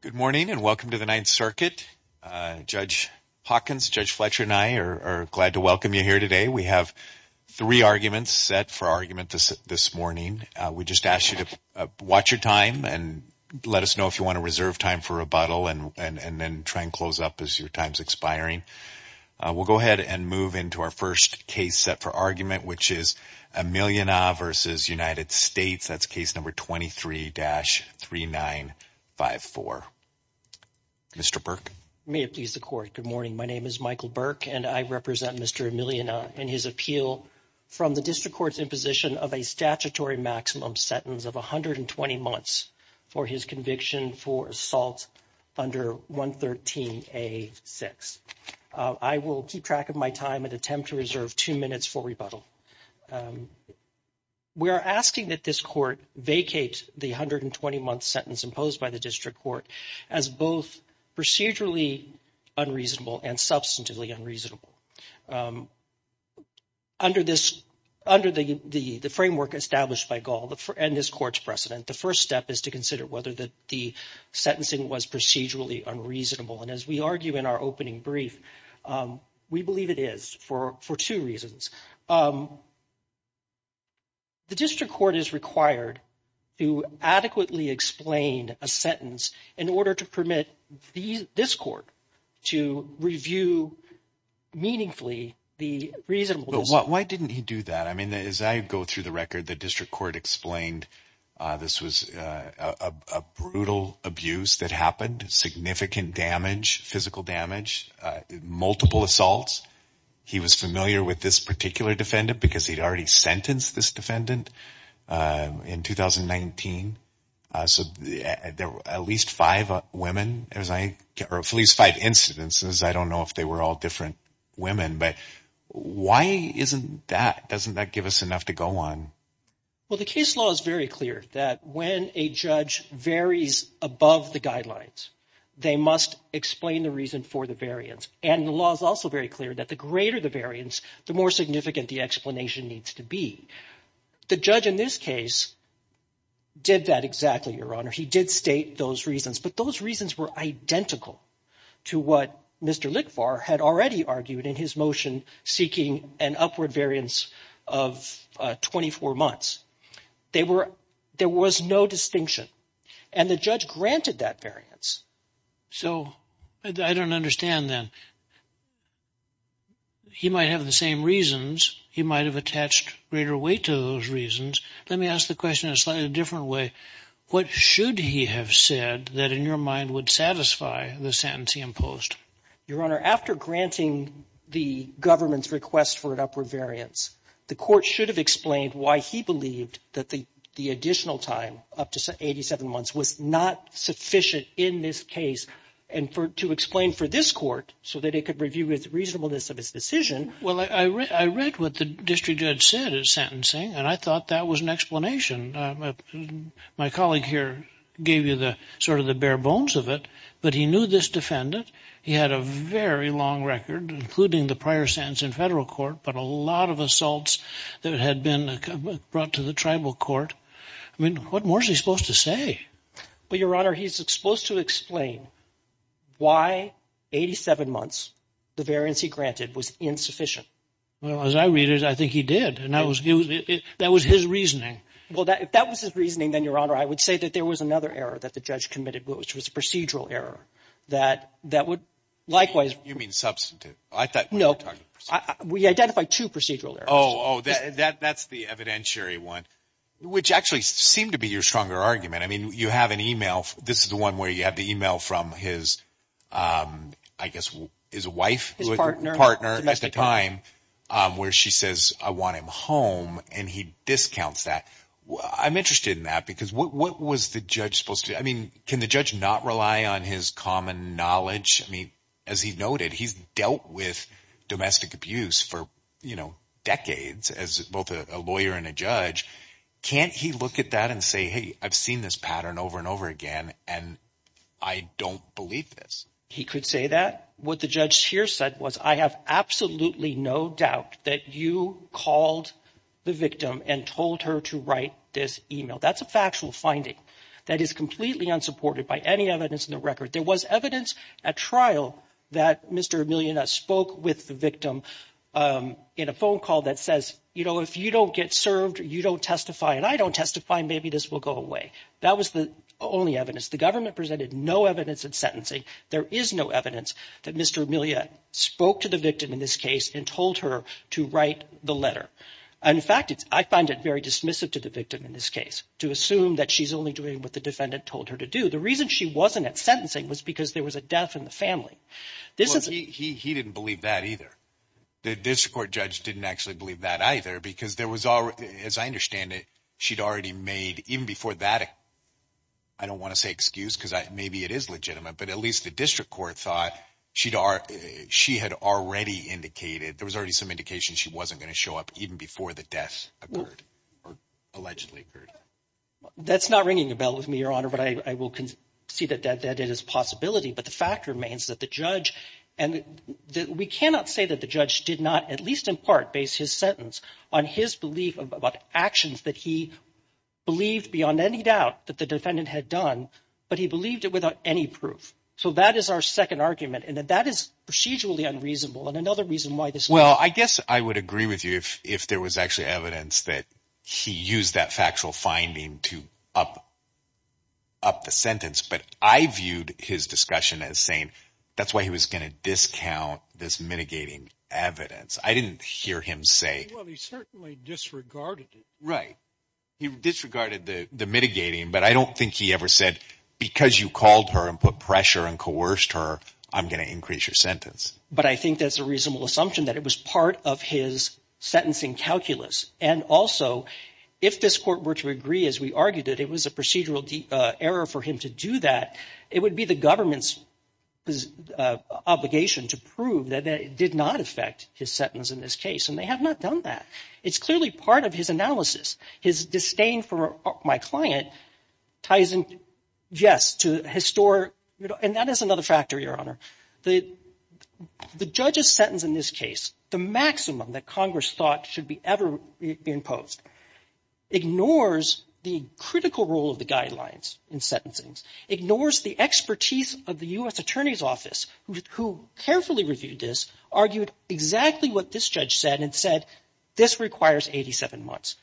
Good morning and welcome to the Ninth Circuit. Judge Hawkins, Judge Fletcher and I are glad to welcome you here today. We have three arguments set for argument this morning. We just asked you to watch your time and let us know if you want to reserve time for rebuttal and then try and close up as your time's expiring. We'll go ahead and move into our first case set for argument which is Ameelyenah v. United States. That's case number 23-3954. Mr. Burke. May it please the court. Good morning. My name is Michael Burke and I represent Mr. Ameelyenah in his appeal from the District Court's imposition of a statutory maximum sentence of a hundred and twenty months for his conviction for assault under 113a6. I will keep track of my time and attempt to reserve two minutes for rebuttal. We are asking that this court vacate the 120-month sentence imposed by the District Court as both procedurally unreasonable and substantively unreasonable. Under the framework established by Gall and this court's precedent, the first step is to consider whether the sentencing was procedurally unreasonable and as we argue in our opening brief, we believe it is for two reasons. The District Court is required to adequately explain a sentence in order to permit this court to review meaningfully the reason. But why didn't he do that? I mean as I go through the record, the District Court explained this was a brutal abuse that happened, significant damage, physical damage, multiple assaults. He was familiar with this particular defendant because he'd already sentenced this defendant in 2019. So there were at least five women, or at least five incidences. I don't know if they were all different women, but why isn't that, doesn't that give us enough to go on? Well the case law is very clear that when a judge varies above the guidelines, they must explain the reason for the variance. And the law is also very clear that the greater the variance, the more significant the explanation needs to be. The judge in this case did that exactly, Your Honor. He did state those reasons, but those reasons were identical to what Mr. Lickvar had already argued in his motion seeking an upward variance of 24 months. There were, there was no distinction. And the judge granted that variance. So I don't understand then. He might have the same reasons. He might have attached greater weight to those reasons. Let me ask the question in a slightly different way. What should he have said that in your mind would satisfy the sentence he imposed? Your Honor, after granting the government's request for an upward variance, the court should have explained why he believed that the additional time, up to 87 months, was not sufficient in this case. And for, to explain for this court, so that it could review its reasonableness of its decision. Well, I read what the district judge said at sentencing, and I thought that was an explanation. My colleague here gave you the, sort of the bare bones of it, but he knew this defendant. He had a very long record, including the prior sentence in the federal court, but a lot of assaults that had been brought to the tribal court. I mean, what more is he supposed to say? But, Your Honor, he's supposed to explain why 87 months, the variance he granted, was insufficient. Well, as I read it, I think he did. And that was, that was his reasoning. Well, if that was his reasoning, then, Your Honor, I would say that there was another error that the judge committed, which was a procedural error. That, that would, likewise. You mean, substantive. I thought. No. We identified two procedural errors. Oh, that's the evidentiary one, which actually seemed to be your stronger argument. I mean, you have an email, this is the one where you have the email from his, I guess, his wife. His partner. Partner at the time, where she says, I want him home, and he discounts that. I'm interested in that, because what was the judge supposed to, I mean, can the judge not rely on his common knowledge? I mean, as he noted, he's dealt with domestic abuse for, you know, decades, as both a lawyer and a judge. Can't he look at that and say, hey, I've seen this pattern over and over again, and I don't believe this. He could say that. What the judge here said was, I have absolutely no doubt that you called the victim and told her to write this email. That's a factual finding that is completely unsupported by any evidence in the record. There was evidence at trial that Mr. Emilia spoke with the victim in a phone call that says, you know, if you don't get served, you don't testify, and I don't testify, maybe this will go away. That was the only evidence. The government presented no evidence in sentencing. There is no evidence that Mr. Emilia spoke to the victim in this case and told her to write the letter. In fact, I find it very dismissive to the victim in this case to assume that she's only doing what the defendant told her to do. The reason she wasn't at sentencing was because there was a death in the family. He didn't believe that either. The district court judge didn't actually believe that either because there was already, as I understand it, she'd already made, even before that, I don't want to say excuse because maybe it is legitimate, but at least the district court thought she'd already, she had already indicated, there was already some indication she wasn't going to show up even before the death occurred or allegedly occurred. That's not ringing a bell with me, Your Honor, but I will concede that that is a possibility, but the fact remains that the judge, and we cannot say that the judge did not, at least in part, base his sentence on his belief about actions that he believed beyond any doubt that the defendant had done, but he believed it without any proof. So that is our second argument, and that is procedurally unreasonable, and Well, I guess I would agree with you if there was actually evidence that he used that factual finding to up the sentence, but I viewed his discussion as saying that's why he was going to discount this mitigating evidence. I didn't hear him say... Well, he certainly disregarded it. Right. He disregarded the mitigating, but I don't think he ever said, because you called her and put pressure and coerced her, I'm going to increase your sentence. But I think that's a reasonable assumption that it was part of his sentencing calculus, and also, if this court were to agree, as we argued it, it was a procedural error for him to do that, it would be the government's obligation to prove that it did not affect his sentence in this case, and they have not done that. It's clearly part of his analysis. His disdain for my client ties in, yes, to his store, and that is another factor, Your Honor. The judge's sentence in this case, the maximum that Congress thought should be ever imposed, ignores the critical role of the guidelines in sentencing, ignores the expertise of the U.S. Attorney's Office, who carefully reviewed this, argued exactly what this judge said and said, this requires 87 months.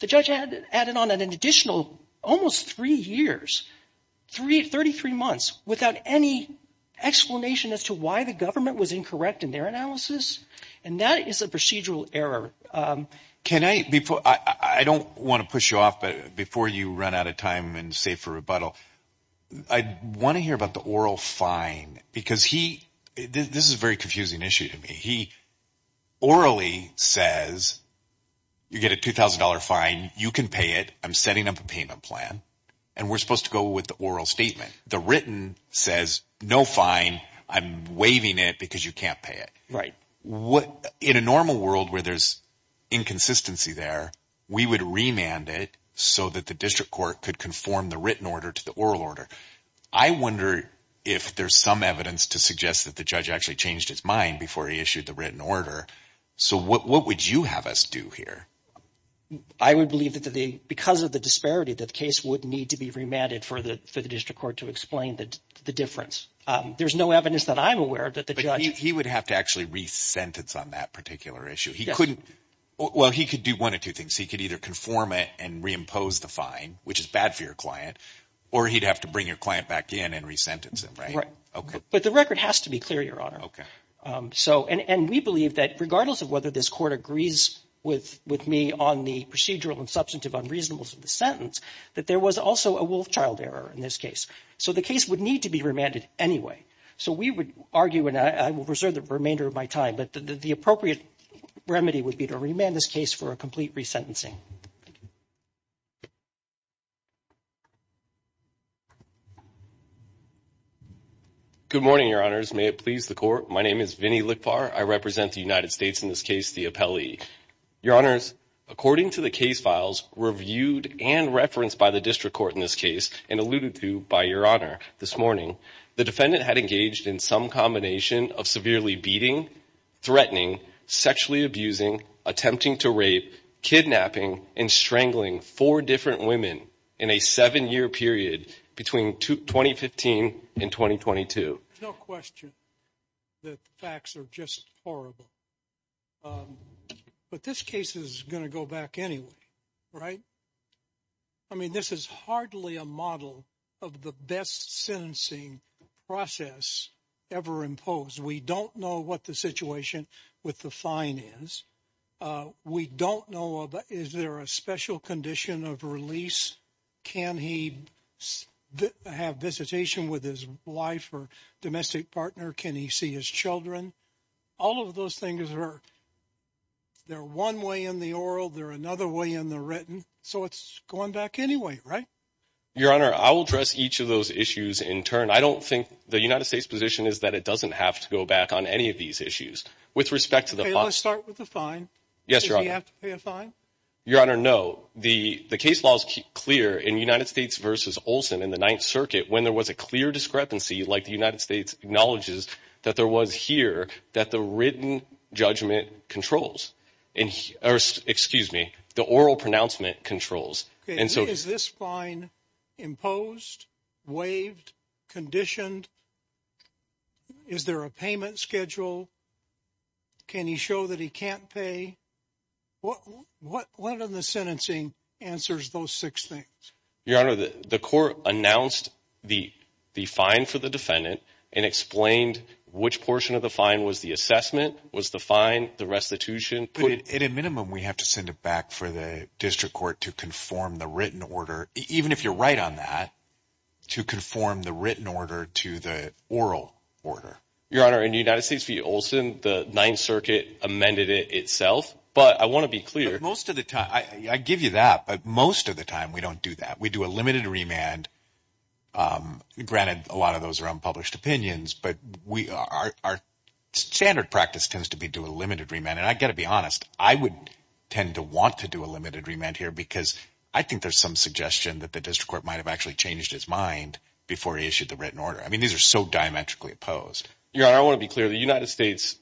The judge added on an additional almost three years, 33 months, without any explanation as to why the government was incorrect in their analysis, and that is a procedural error. Can I, before, I don't want to push you off, but before you run out of time and save for rebuttal, I want to hear about the oral fine, because he, this is a very confusing issue to me, he orally says, you get a $2,000 fine, you can pay it, I'm setting up a payment plan, and we're supposed to go with the oral statement. The written says, no fine, I'm waiving it because you can't pay it. Right. What, in a normal world where there's inconsistency there, we would remand it so that the district court could conform the written order to the oral order. I wonder if there's some evidence to suggest that the judge actually changed his mind before he issued the written order, so what would you have us do here? I would believe that because of the disparity, that the case would need to be remanded for the district court to explain that the difference. There's no evidence that I'm aware of that the judge... He would have to actually re-sentence on that particular issue. He couldn't, well, he could do one of two things. He could either conform it and reimpose the fine, which is bad for your client, or he'd have to bring your client back in and re-sentence him, right? Right. Okay. But the record has to be clear, Your Honor. Okay. So, and we believe that regardless of whether this court agrees with me on the procedural and substantive unreasonableness of the sentence, that there was also a Wolfchild error in this case. So, the case would need to be remanded anyway. So, we would argue, and I will reserve the remainder of my time, but the appropriate remedy would be to remand this case for a complete re-sentencing. Good morning, Your Honors. May it please the Court. My name is Vinny Likpar. I am the plaintiff's attorney, and I'm here to face the appellee. Your Honors, according to the case files reviewed and referenced by the district court in this case, and alluded to by Your Honor this morning, the defendant had engaged in some combination of severely beating, threatening, sexually abusing, attempting to rape, kidnapping, and strangling four different women in a seven-year period between 2015 and 2022. There's no question that the facts are just horrible. But this case is going to go back anyway, right? I mean, this is hardly a model of the best sentencing process ever imposed. We don't know what the situation with the fine is. We don't know, is there a special condition of release? Can he have visitation with his wife or domestic partner? Can he see his children? All of those things are one way in the oral, they're another way in the written. So it's going back anyway, right? Your Honor, I will address each of those issues in turn. I don't think the United States' position is that it doesn't have to go back on any of these issues. Okay, let's start with the fine. Does he have to pay a fine? Your Honor, no. The case law is clear in United States v. Olson in the Ninth Circuit when there was a clear discrepancy like the United States acknowledges that there was here that the written judgment controls. Excuse me, the oral pronouncement controls. Okay, is this fine imposed, waived, conditioned? Is there a payment schedule? Can he show that he can't pay? What in the sentencing answers those six things? Your Honor, the court announced the fine for the defendant and explained which portion of the fine was the assessment, was the fine, the restitution. At a minimum, we have to send it back for the district court to conform the written order, even if you're right on that, to conform the written order to the oral order. Your Honor, in the United States v. Olson, the Ninth Circuit amended it itself, but I want to be clear. I give you that, but most of the time we don't do that. We do a limited remand. Granted, a lot of those are unpublished opinions, but our standard practice tends to be do a limited remand, and I've got to be honest. I would tend to want to do a limited remand here because I think there's some suggestion that the district court might have actually changed his mind before he issued the written order. I mean, these are so diametrically opposed. Your Honor, I want to be clear. The United States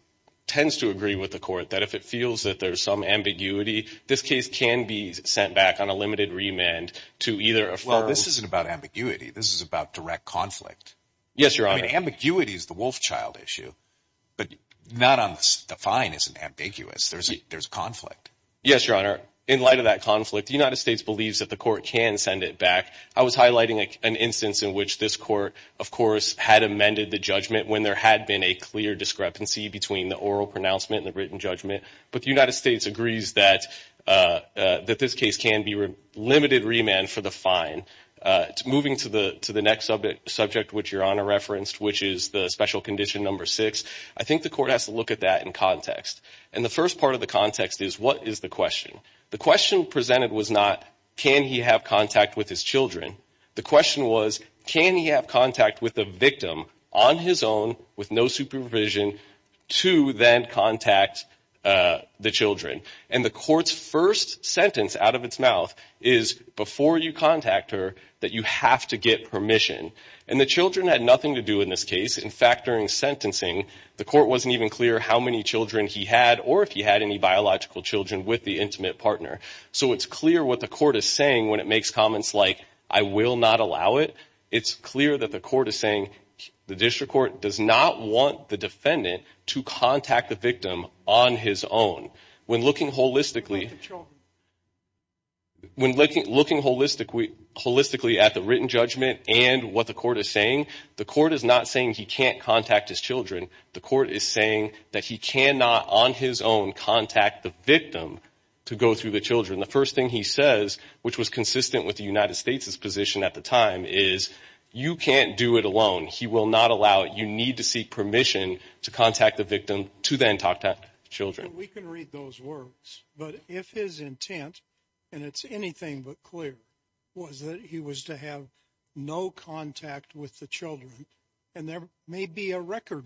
tends to agree with the court that if it feels that there's some ambiguity, this case can be sent back on a limited remand to either a firm... Well, this isn't about ambiguity. This is about direct conflict. Yes, Your Honor. Ambiguity is the wolf child issue, but not on the... The fine isn't ambiguous. There's conflict. Yes, Your Honor. In light of that conflict, the United States believes that the court can send it back. I was highlighting an instance in which this court of course had amended the judgment when there had been a clear discrepancy between the oral pronouncement and the written judgment, but the United States agrees that this case can be limited remand for the fine. Moving to the next subject, which Your Honor referenced, which is the special condition number six, I think the court has to look at that in context. And the first part of the context is, what is the question? The question presented was not, can he have contact with his children? The question was, can he have contact with the victim on his own with no supervision to then contact the children? And the court's first sentence out of its mouth is, before you contact her, that you have to get permission. And the children had nothing to do in this case. In fact, during sentencing, the court wasn't even clear how many children he had or if he had any biological children with the intimate partner. So it's clear what the court is saying when it makes comments like, I will not allow it. It's clear that the court is saying, the district court does not want the defendant to contact the victim on his own. When looking holistically... When looking holistically at the written judgment and what the court is saying, the court is not saying he can't contact his children. The court is saying that he cannot on his own contact the victim to go through the children. The first thing he says, which was consistent with the United States' position at the time is, you can't do it alone. He will not allow it. You need to seek permission to contact the victim to then talk to children. We can read those words. But if his intent, and it's anything but clear, was that he was to have no contact with the children, and there may be a record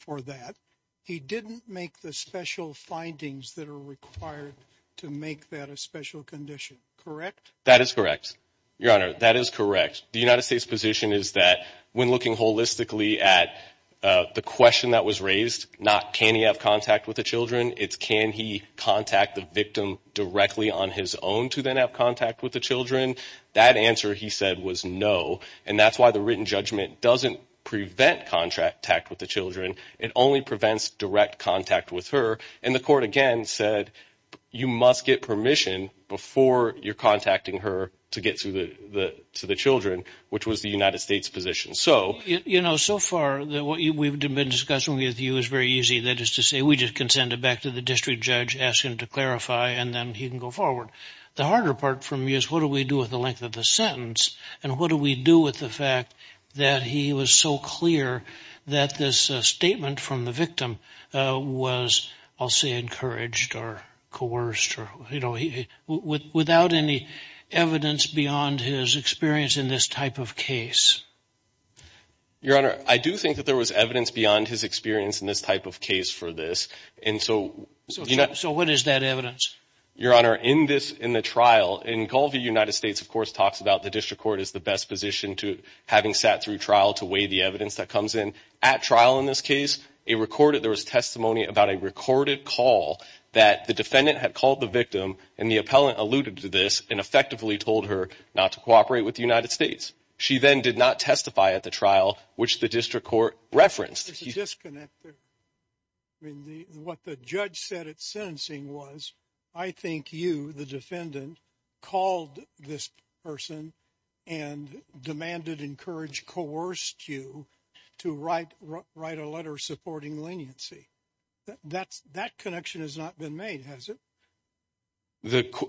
for that, he didn't make the special findings that are required to make that a special condition. Correct? That is correct. Your Honor, that is correct. The United States' position is that when looking holistically at the question that was raised, not can he have contact with the children, it's can he contact the victim directly on his own to then have contact with the children. That answer, he said, was no. And that's why the written judgment doesn't prevent contact with the children. It only prevents direct contact with her. And the court, again, said you must get permission before you're contacting her to get to the children, which was the United States' position. You know, so far, what we've been discussing with you is very easy. That is to say we just can send it back to the district judge, ask him to clarify, and then he can go forward. The harder part for me is what do we do with the length of the sentence, and what do we do with the fact that he was so clear that this statement from the victim was, I'll say, encouraged or coerced or, you know, without any evidence beyond his experience in this type of case? Your Honor, I do think that there was evidence beyond his experience in this type of case for this, and so... So what is that evidence? Your Honor, in the trial, and all of the United States, of course, talks about the district court is the best position to, having sat through trial, to weigh the evidence that comes in. At trial in this case, there was testimony about a recorded call that the defendant had called the victim, and the appellant alluded to this and effectively told her not to cooperate with the United States. She then did not testify at the trial, which the district court referenced. There's a disconnect there. I mean, what the judge said at sentencing was, I think you, the defendant, called this person and demanded, encouraged, coerced you to write a letter supporting leniency. That connection has not been made, has it?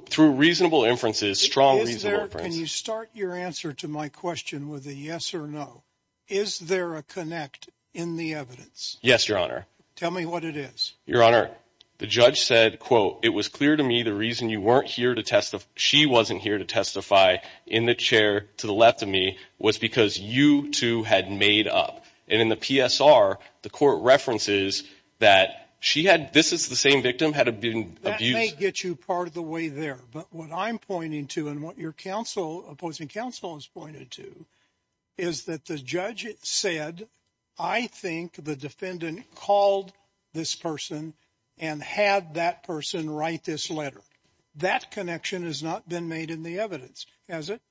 Through reasonable inferences, strong reasonable inferences. Can you start your answer to my question with a yes or no? Is there a connect in the evidence? Yes, Your Honor. Tell me what it is. Your Honor, the judge said, quote, it was clear to me the reason she wasn't here to testify in the chair to the left of me was because you two had made up. And in the PSR, the court references that she had, this is the same victim, had been abused. That may get you part of the way there. But what I'm pointing to and what your opposing counsel has pointed to is that the judge said, I think the defendant called this person and had that person write this letter. That connection has not been made in the evidence, has it?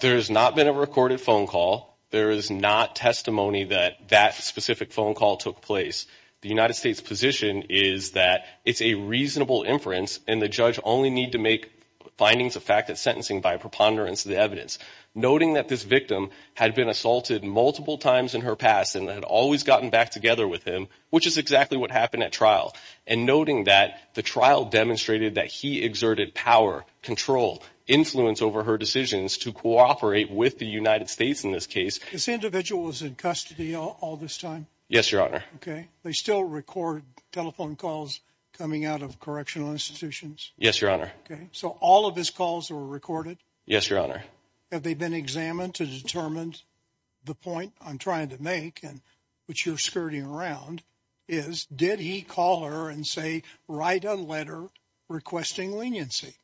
There has not been a recorded phone call. There is not testimony that that specific phone call took place. The United States position is that it's a reasonable inference and the judge only need to make findings of fact that sentencing by preponderance of the evidence. Noting that this victim had been assaulted multiple times in her past and had always gotten back together with him, which is exactly what happened at trial. And noting that the trial demonstrated that he exerted power, control, influence over her decisions to cooperate with the United States in this case. This individual was in custody all this time? Yes, Your Honor. Okay. They still record telephone calls coming out of correctional institutions? Yes, Your Honor. Okay. So all of his calls were recorded? Yes, Your Honor. Have they been examined to determine the point I'm trying to make and which you're skirting around is, did he call her and say, write a letter requesting leniency?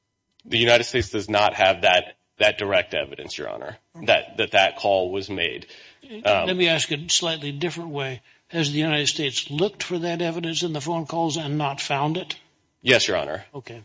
The United States does not have that direct evidence, Your Honor, that that call was made. Let me ask in a slightly different way. Has the United States looked for that evidence in the phone calls and not found it? Yes, Your Honor. Okay.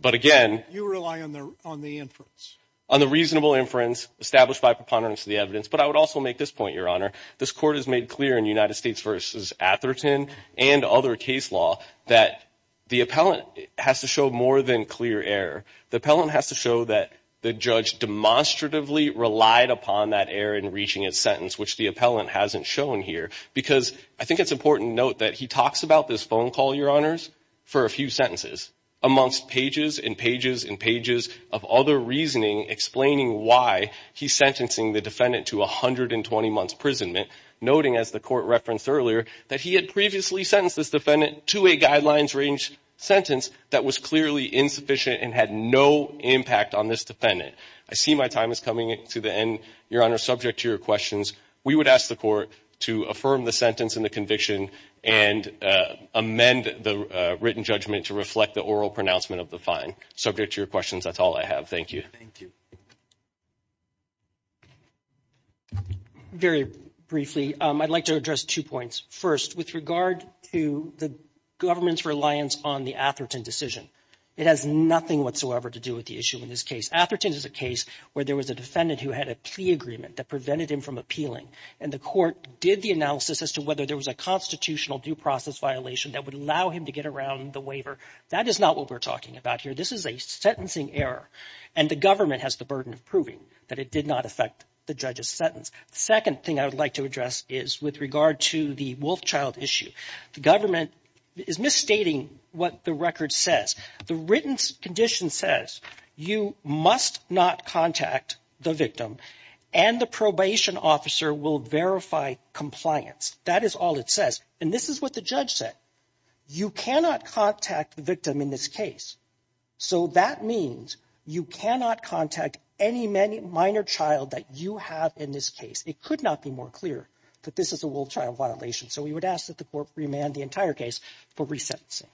But again... You rely on the inference? On the reasonable inference established by preponderance of the evidence. But I would also make this point, Your Honor. This court has made clear in United States v. Atherton and other case law that the appellant has to show more than clear error. The appellant has to show that the judge demonstratively relied upon that error in reaching his sentence, which the appellant hasn't shown here. Because I think it's important to note that he talks about this phone call, Your Honors, for a few sentences, amongst pages and pages and pages of other reasoning explaining why he's sentencing the defendant to 120 months' imprisonment, noting as the court referenced earlier, that he had previously sentenced this defendant to a guidelines-range sentence that was clearly insufficient and had no impact on this defendant. I see my time is coming to the end. Your Honor, subject to your questions, we would ask the court to affirm the sentence and the conviction and amend the written judgment to reflect the oral pronouncement of the fine. Subject to your questions, that's all I have. Thank you. Thank you. Very briefly, I'd like to address two points. First, with regard to the government's reliance on the Atherton decision, it has nothing whatsoever to do with the issue in this case. Atherton is a case where there was a defendant who had a plea agreement that prevented him from appealing, and the court did the analysis as to whether there was a constitutional due process violation that would allow him to get around the waiver. That is not what we're talking about here. This is a sentencing error, and the government has the burden of proving that it did not affect the judge's sentence. The second thing I would like to address is with regard to the Wolfchild issue. The government is stating what the record says. The written condition says you must not contact the victim, and the probation officer will verify compliance. That is all it says, and this is what the judge said. You cannot contact the victim in this case, so that means you cannot contact any minor child that you have in this case. It could not be more clear that this is a Wolfchild violation, so we would ask that the court remand the entire case for resentencing.